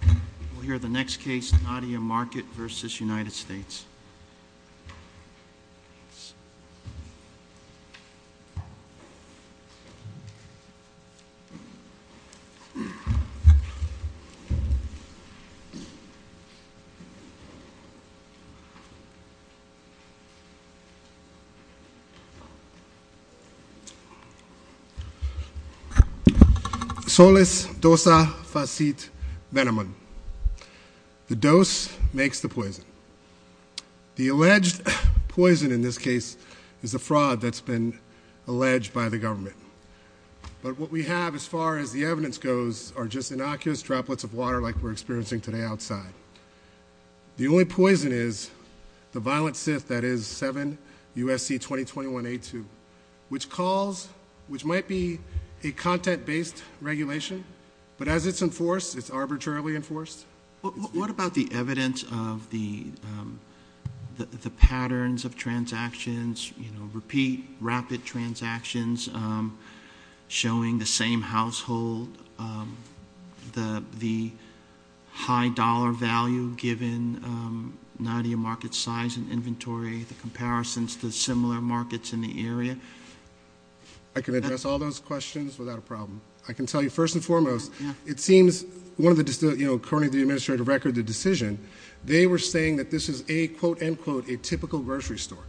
We'll hear the next case, Nadia Market v. United States. Solis Dosa Facit Venemon. The dose makes the poison. The alleged poison in this case is a fraud that's been alleged by the government. But what we have as far as the evidence goes are just innocuous droplets of water like we're experiencing today outside. The only poison is the violent sith that is 7 USC 2021 A2 which calls, which might be a content-based regulation. But as it's enforced, it's arbitrarily enforced. What about the evidence of the patterns of transactions, you know, repeat rapid transactions showing the same household, the high dollar value given Nadia market size and inventory, the comparisons to similar markets in the area? I can address all those questions without a problem. I can tell you first and foremost, it seems one of the, you know, according to the administrative record, the decision, they were saying that this is a quote-unquote a typical grocery store.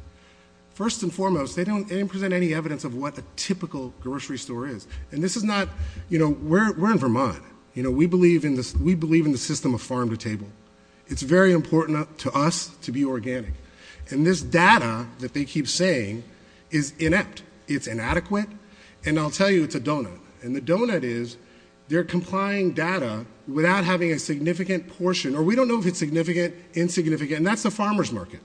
First and foremost, they don't present any evidence of what a typical grocery store is. And this is not, you know, we're in Vermont, you know, we believe in this, we believe in the system of farm-to-table. It's very important to us to be organic. And this data that they keep saying is inept, it's inadequate. And I'll tell you, it's a donut. And the donut is they're complying data without having a significant portion, or we don't know if it's significant, insignificant, and that's the farmer's market.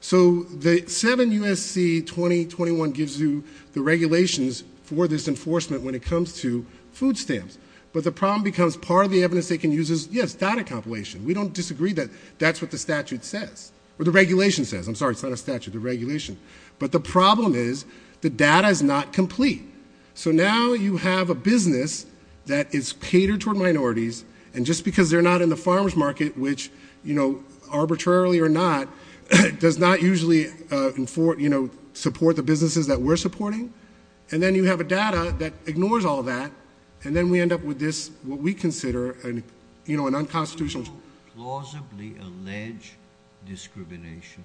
So the 7 USC 2021 gives you the regulations for this enforcement when it comes to food stamps. But the problem becomes part of the evidence they can use is yes, data compilation. We don't disagree that that's what the statute says, or the regulation says. I'm sorry, it's not a statute, the regulation. But the problem is the data is not complete. So now you have a business that is catered toward minorities, and just because they're not in the farmer's market, which, you know, arbitrarily or not, does not usually, you know, support the businesses that we're supporting. And then you have a data that ignores all that, and then we plausibly allege discrimination.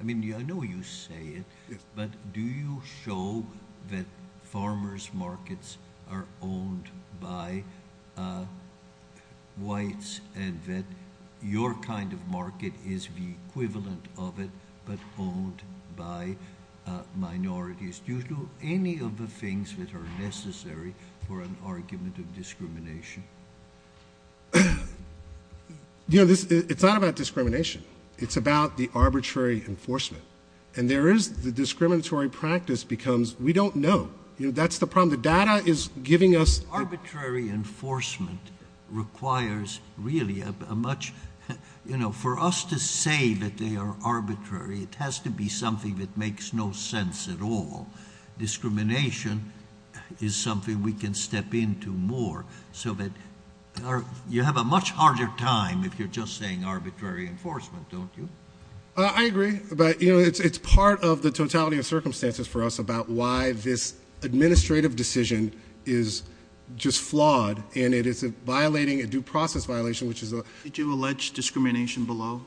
I mean, I know you say it, but do you show that farmers markets are owned by whites and that your kind of market is the equivalent of it, but owned by minorities due to any of the things that are necessary for an argument of discrimination? You know, this, it's not about discrimination. It's about the arbitrary enforcement. And there is the discriminatory practice becomes, we don't know, you know, that's the problem. The data is giving us... Arbitrary enforcement requires really a much, you know, for us to say that they are arbitrary, it has to be something that makes no sense at all. Discrimination is something we can step into more so that you have a much harder time if you're just saying arbitrary enforcement, don't you? I agree, but you know, it's part of the totality of circumstances for us about why this administrative decision is just flawed, and it is violating a due process violation, which is a... Did you allege discrimination below?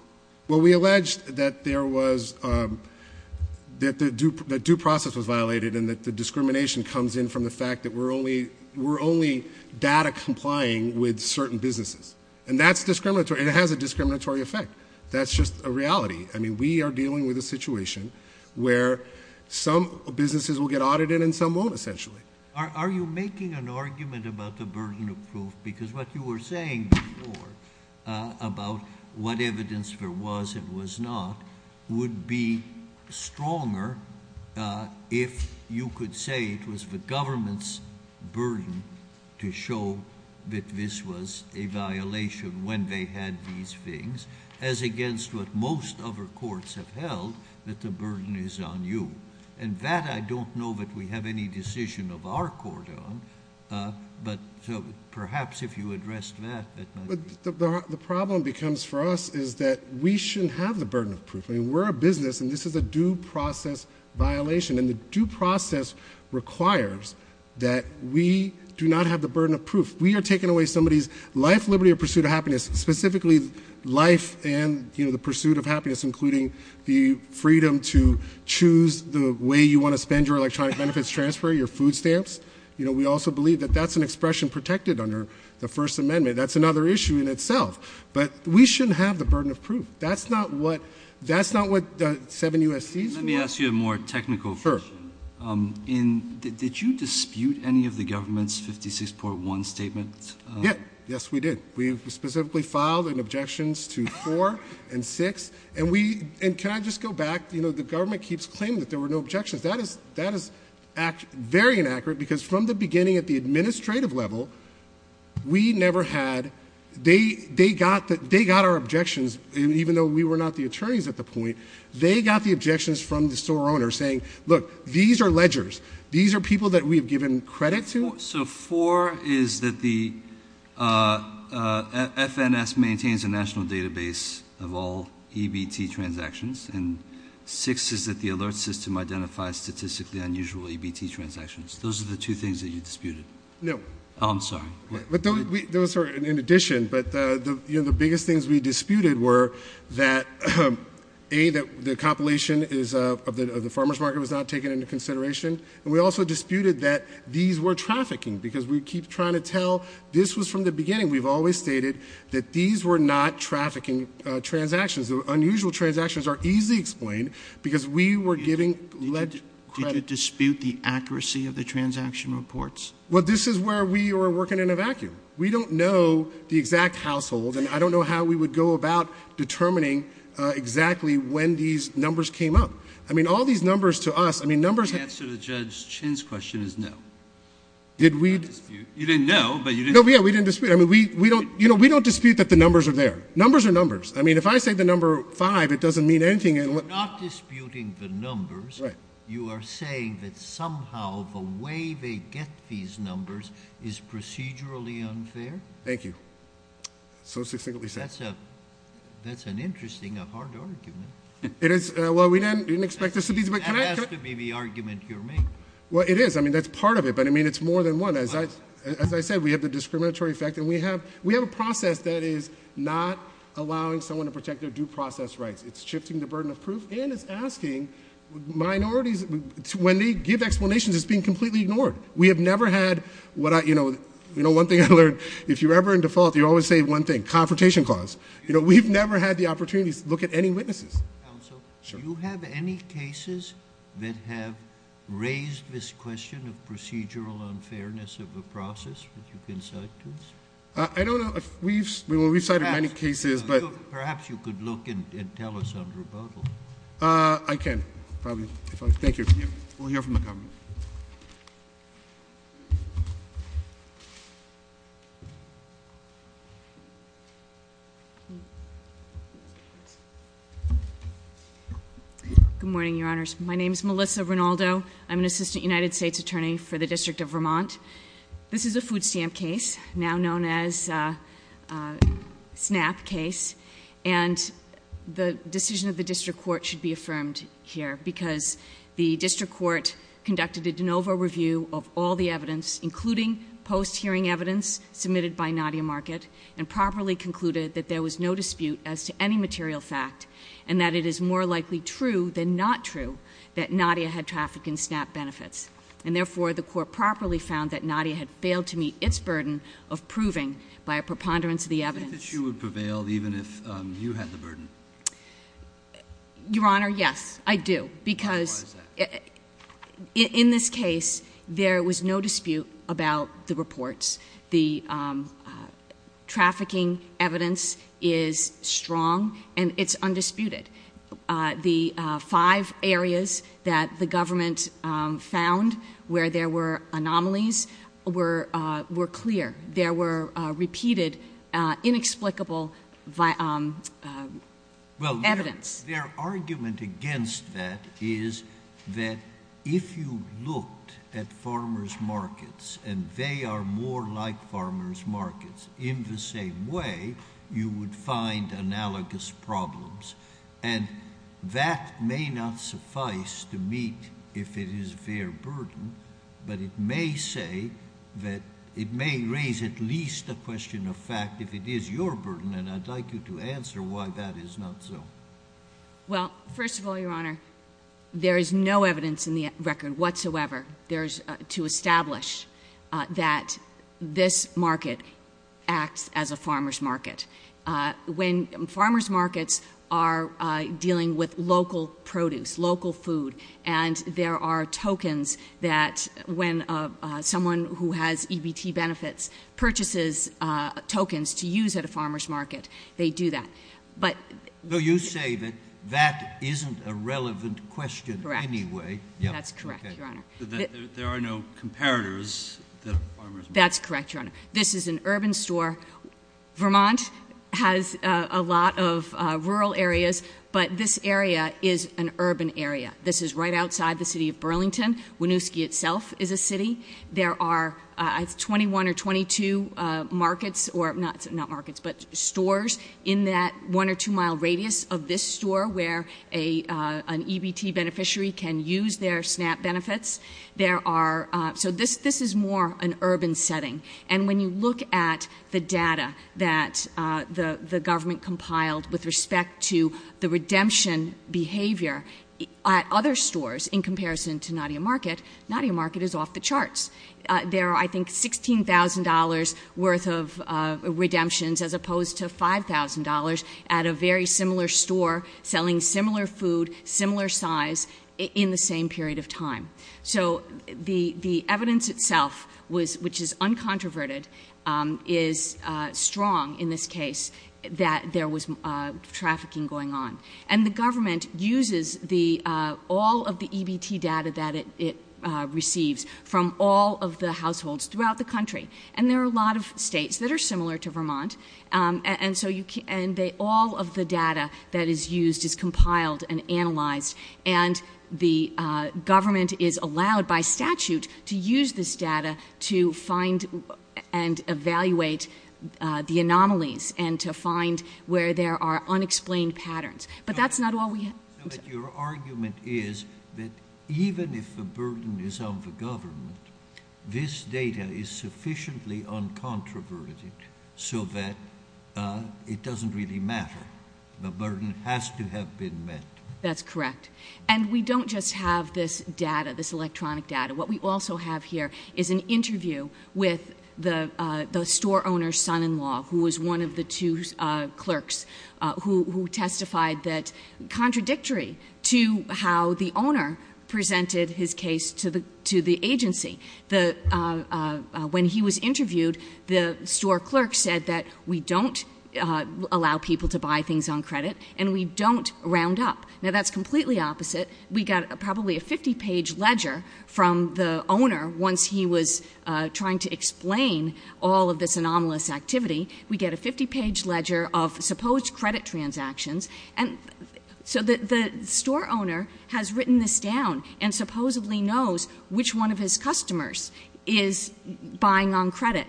Well, we alleged that there was, that the due process was violated, and that the discrimination comes in from the fact that we're only data complying with certain businesses. And that's discriminatory. It has a discriminatory effect. That's just a reality. I mean, we are dealing with a situation where some businesses will get audited and some won't, essentially. Are you making an argument about the burden of proof? Because what you were saying before, about what evidence there was, it was not, would be stronger if you could say it was the government's burden to show that this was a violation when they had these things, as against what most other courts have held, that the burden is on you. And that, I don't know that we have any decision of our court on, but perhaps if you addressed that, that might be... The problem becomes for us is that we shouldn't have the burden of proof. I mean, this is a due process violation, and the due process requires that we do not have the burden of proof. We are taking away somebody's life, liberty, or pursuit of happiness, specifically life and, you know, the pursuit of happiness, including the freedom to choose the way you want to spend your electronic benefits transfer, your food stamps. You know, we also believe that that's an expression protected under the First Amendment. That's another issue in itself. But we shouldn't have the burden of proof. That's not what, that's not what the seven U.S.C.s want. Let me ask you a more technical question. Sure. In... did you dispute any of the government's 56.1 statement? Yeah. Yes, we did. We specifically filed an objections to 4 and 6, and we... and can I just go back? You know, the government keeps claiming that there were no objections. That is... that is very inaccurate, because from the beginning at the administrative level, we never had... they got our objections, even though we were not the attorneys at the point. They got the objections from the store owner saying, look, these are ledgers. These are people that we've given credit to. So, 4 is that the FNS maintains a national database of all EBT transactions, and 6 is that the alert system identifies statistically unusual EBT transactions. Those are the two things that you disputed. No. Oh, I'm sorry. Those are in addition, but the biggest things we disputed were that, A, the compilation of the farmer's market was not taken into consideration, and we also disputed that these were trafficking, because we keep trying to tell this was from the beginning. We've always stated that these were not trafficking transactions. Unusual transactions are easily explained, because we were giving ledger credit. Did you dispute the accuracy of the transaction reports? Well, this is where we were working in a vacuum. We don't know the exact household, and I don't know how we would go about determining exactly when these numbers came up. I mean, all these numbers to us... The answer to Judge Chin's question is no. Did we... You didn't know, but you didn't... No, we didn't dispute. I mean, we don't dispute that the numbers are there. Numbers are numbers. I mean, if I say the number 5, it doesn't mean anything... You're not disputing the numbers. You are saying that somehow the way they get these numbers is procedurally unfair? Thank you. So succinctly said. That's an interesting, a hard argument. It is. Well, we didn't expect this to be... That has to be the argument you're making. Well, it is. I mean, that's part of it, but I mean, it's more than one. As I said, we have the discriminatory effect, and we have a process that is not allowing someone to protect their due process rights. It's shifting the burden of proof, and it's asking minorities... When they give explanations, it's being completely ignored. We have never had what I... You know, one thing I learned, if you're ever in default, you always say one thing, confrontation clause. You know, we've never had the opportunity to look at any witnesses. Counsel, do you have any cases that have raised this question of procedural unfairness of a process with your consultants? I don't know. We've cited many cases, but... Perhaps you could look and tell us on rebuttal. I can, probably, if I... Thank you. We'll hear from the government. Good morning, Your Honors. My name is Melissa Rinaldo. I'm an Assistant United States Attorney for the District of Vermont. This is a food stamp case, now known as a SNAP case, and the decision of the District Court should be affirmed here, because the District Court conducted a de novo review of all the evidence, including post-hearing evidence submitted by Nadia Market, and properly concluded that there was no dispute as to any material fact, and that it is more likely true than not true that Nadia had traffic and SNAP benefits. And therefore, the Court properly found that Nadia had failed to meet its burden of proving by a preponderance of the evidence. Do you think that she would prevail even if you had the burden? Your Honor, yes, I do, because... Why is that? In this case, there was no dispute about the reports. The trafficking evidence is strong, and it's undisputed. The five areas that the government found where there were anomalies were clear. There were repeated, inexplicable evidence. Well, their argument against that is that if you looked at farmers' markets, and they are more like farmers' markets, in the same way, you would find analogous problems. And that may not suffice to meet if it is their burden, but it may say that it may raise at least a question of fact if it is your burden, and I'd like you to answer why that is not so. Well, first of all, Your Honor, there is no evidence in the record whatsoever to establish that this market acts as a farmers' market. When farmers' markets are dealing with local produce, local food, and there are tokens that when someone who has EBT benefits purchases tokens to use at a farmers' market, they do that. But... So you say that that isn't a relevant question anyway? Correct. That's correct, Your Honor. There are no comparators that farmers' markets... That's correct, Your Honor. This is an urban store. Vermont has a lot of rural areas, but this area is an urban area. This is right outside the city of Burlington. Winooski itself is a city. There are 21 or 22 markets, or not markets, but stores in that one or two-mile radius of this store where an EBT beneficiary can use their SNAP benefits. So this is more an urban setting. And when you look at the data that the government compiled with respect to the redemption behavior at other stores in comparison to Nadia Market, Nadia Market is off the charts. There are, I think, $16,000 worth of redemptions as opposed to $5,000 at a very similar store selling similar food, similar size, in the same period of time. So the evidence itself, which is uncontroverted, is strong in this case that there was trafficking going on. And the government uses all of the EBT data that it receives from all of the households throughout the country. And there are a lot of states that are similar to Vermont. And so all of the data that is used is compiled and analyzed. And the government is allowed by statute to use this data to find and evaluate the anomalies and to find where there are unexplained patterns. But that's not all we have. So your argument is that even if the burden is on the government, this data is sufficiently uncontroverted so that it doesn't really matter. The burden has to have been met. That's correct. And we don't just have this data, this electronic data. What we also have here is an interview with the store owner's son-in-law, who was one of the clerks who testified that, contradictory to how the owner presented his case to the agency, when he was interviewed, the store clerk said that we don't allow people to buy things on credit and we don't round up. Now, that's completely opposite. We got probably a 50-page ledger from the owner once he was trying to explain all of this anomalous activity. We get a 50-page ledger of supposed credit transactions. And so the store owner has written this down and supposedly knows which one of his customers is buying on credit.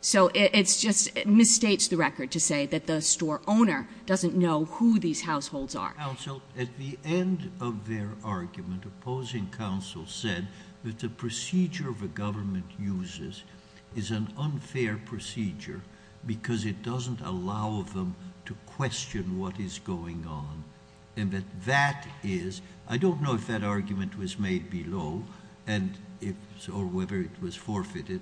So it's just — it misstates the record to say that the store owner doesn't know who these households are. Counsel, at the end of their argument, opposing counsel said that the procedure the government uses is an unfair procedure because it doesn't allow them to question what is going on and that that is — I don't know if that argument was made below or whether it was forfeited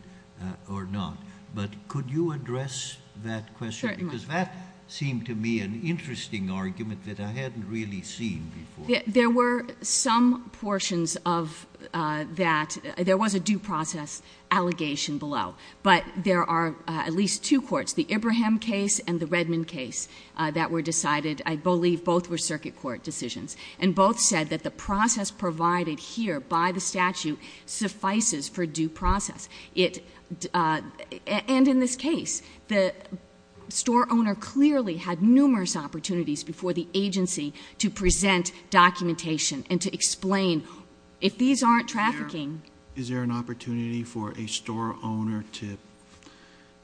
or not, but could you address that question? Because that seemed to me an interesting argument that I hadn't really seen before. There were some portions of that — there was a due process allegation below, but there are at least two courts, the Ibrahim case and the Redmond case, that were decided — I believe both were circuit court decisions — and both said that the process provided here by the statute suffices for due process. It — and in this case, the store owner clearly had numerous opportunities before the agency to present documentation and to explain if these aren't trafficking — Is there an opportunity for a store owner to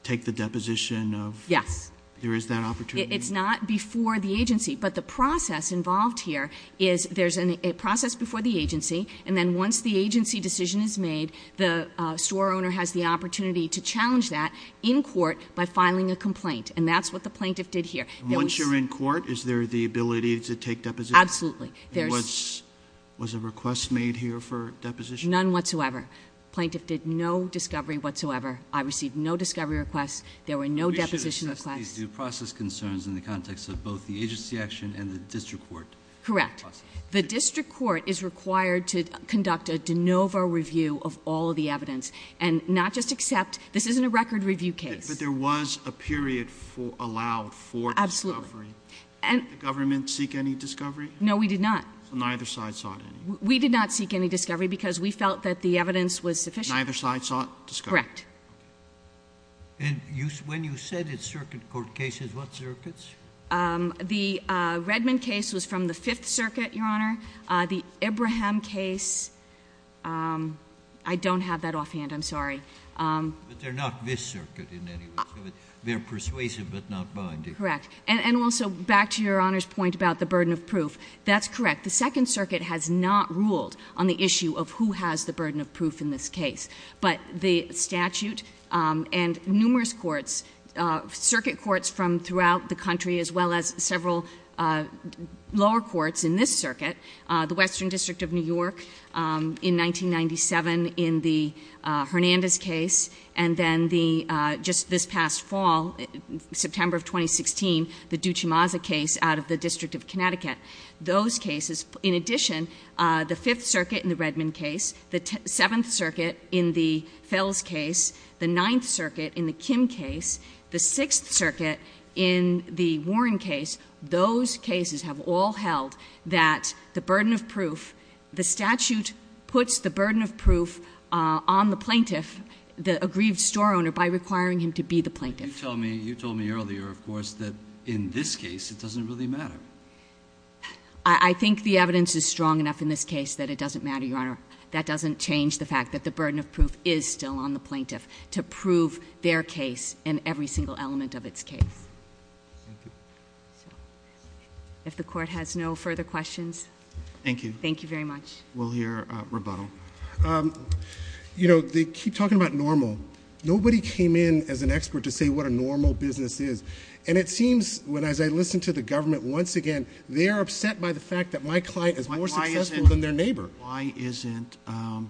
take the deposition of — Yes. There is that opportunity? It's not before the agency, but the process involved here is there's a process before the agency, and then once the agency decision is made, the store owner has the opportunity to challenge that in court by filing a complaint, and that's what the plaintiff did here. Once you're in court, is there the ability to take deposition? Absolutely. There's — Was a request made here for deposition? None whatsoever. Plaintiff did no discovery whatsoever. I received no discovery requests. There were no deposition requests. We should assess these due process concerns in the context of both the agency action and the district court process. Correct. The district court is required to conduct a de novo review of all of the evidence and not just accept — this isn't a record review case. But there was a period for — allowed for discovery. Absolutely. And — Did the government seek any discovery? No, we did not. So neither side sought any? We did not seek any discovery because we felt that the evidence was sufficient. Neither side sought discovery? Correct. And when you said it's circuit court cases, what circuits? The Redmond case was from the Fifth Circuit, Your Honor. The Ibrahim case — I don't have that They're persuasive but not binding. Correct. And also, back to Your Honor's point about the burden of proof, that's correct. The Second Circuit has not ruled on the issue of who has the burden of proof in this case. But the statute and numerous courts, circuit courts from throughout the country as well as several lower courts in this circuit, the Western District of New York in 1997 in the Hernandez case, and then the — just this past fall, September of 2016, the Duchemaza case out of the District of Connecticut. Those cases — in addition, the Fifth Circuit in the Redmond case, the Seventh Circuit in the Fells case, the Ninth Circuit in the Kim case, the Sixth Circuit in the Warren case — those cases have all held that the burden of proof — the statute puts the burden of proof on the plaintiff, the aggrieved store owner, by requiring him to be the plaintiff. But you told me — you told me earlier, of course, that in this case it doesn't really matter. I think the evidence is strong enough in this case that it doesn't matter, Your Honor. That doesn't change the fact that the burden of proof is still on the plaintiff to prove their case and every single element of its case. Thank you. If the Court has no further questions — Thank you. Thank you very much. We'll hear rebuttal. You know, they keep talking about normal. Nobody came in as an expert to say what a normal business is. And it seems, as I listen to the government once again, they are upset by the fact that my client is more successful than their neighbor. Why isn't a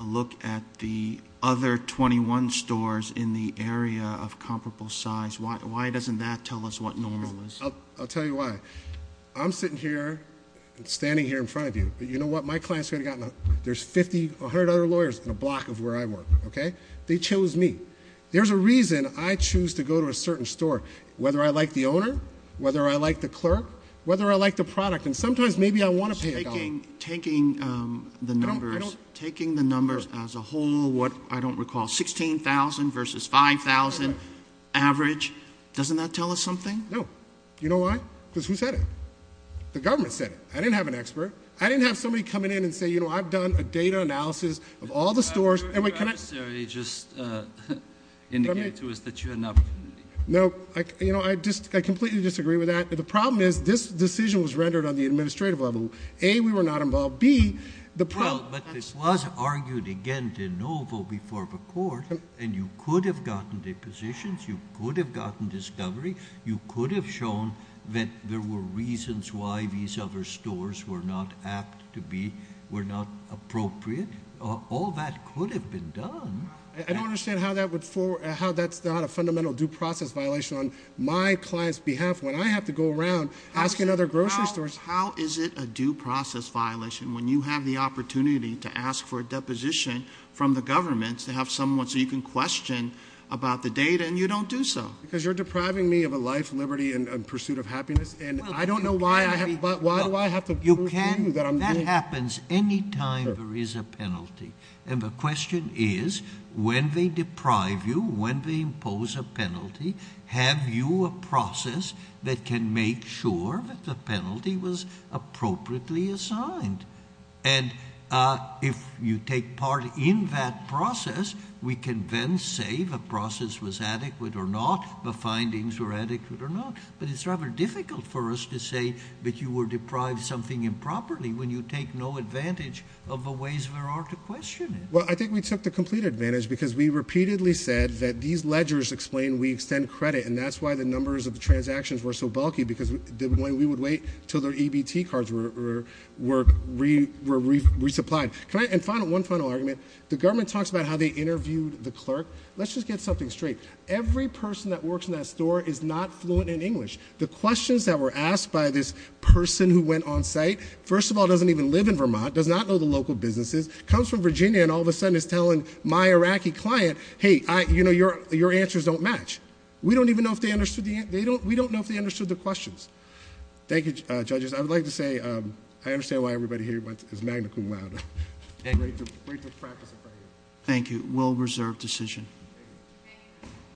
look at the other 21 stores in the area of comparable size — why doesn't that tell us what normal is? I'll tell you why. I'm sitting here and standing here in front of you. But you know what? My clients could have gotten — there's 50, 100 other lawyers in a block of where I work, okay? They chose me. There's a reason I choose to go to a certain store, and sometimes maybe I want to pay a dollar. Taking the numbers as a whole, what, I don't recall, 16,000 versus 5,000 average, doesn't that tell us something? No. You know why? Because who said it? The government said it. I didn't have an expert. I didn't have somebody coming in and say, you know, I've done a data analysis of all the stores — I would necessarily just indicate to us that you had an opportunity. No, you know, I completely disagree with that. The problem is this decision was rendered on the administrative level. A, we were not involved. B, the problem — Well, but this was argued again de novo before the court, and you could have gotten depositions. You could have gotten discovery. You could have shown that there were reasons why these other stores were not apt to be, were not appropriate. All that could have been done. I don't understand how that's not a fundamental due process violation on my client's behalf. When I have to go around asking other grocery stores — How is it a due process violation when you have the opportunity to ask for a deposition from the government to have someone so you can question about the data, and you don't do so? Because you're depriving me of a life, liberty, and pursuit of happiness, and I don't know why I have — Why do I have to prove to you that I'm — That happens any time there is a penalty. And the question is, when they deprive you, when they impose a penalty, have you a process that can make sure that the penalty was appropriately assigned? And if you take part in that process, we can then say the process was adequate or not, the findings were adequate or not. But it's rather difficult for us to say that you were deprived something improperly when you take no advantage of the ways there are to question it. Well, I think we took the complete advantage because we repeatedly said that these ledgers explain we extend credit, and that's why the numbers of the transactions were so bulky, because we would wait until their EBT cards were resupplied. Can I — And one final argument. The government talks about how they interviewed the clerk. Let's just get something straight. Every person that works in that store is not fluent in English. The questions that were asked by this person who went on site, first of all, doesn't even live in Vermont, does not know the local businesses, comes from Virginia, and all of a sudden is telling my Iraqi client, hey, your answers don't match. We don't even know if they understood the questions. Thank you, judges. I would like to say, I understand why everybody here is magna cum laude. Thank you. Well-reserved decision.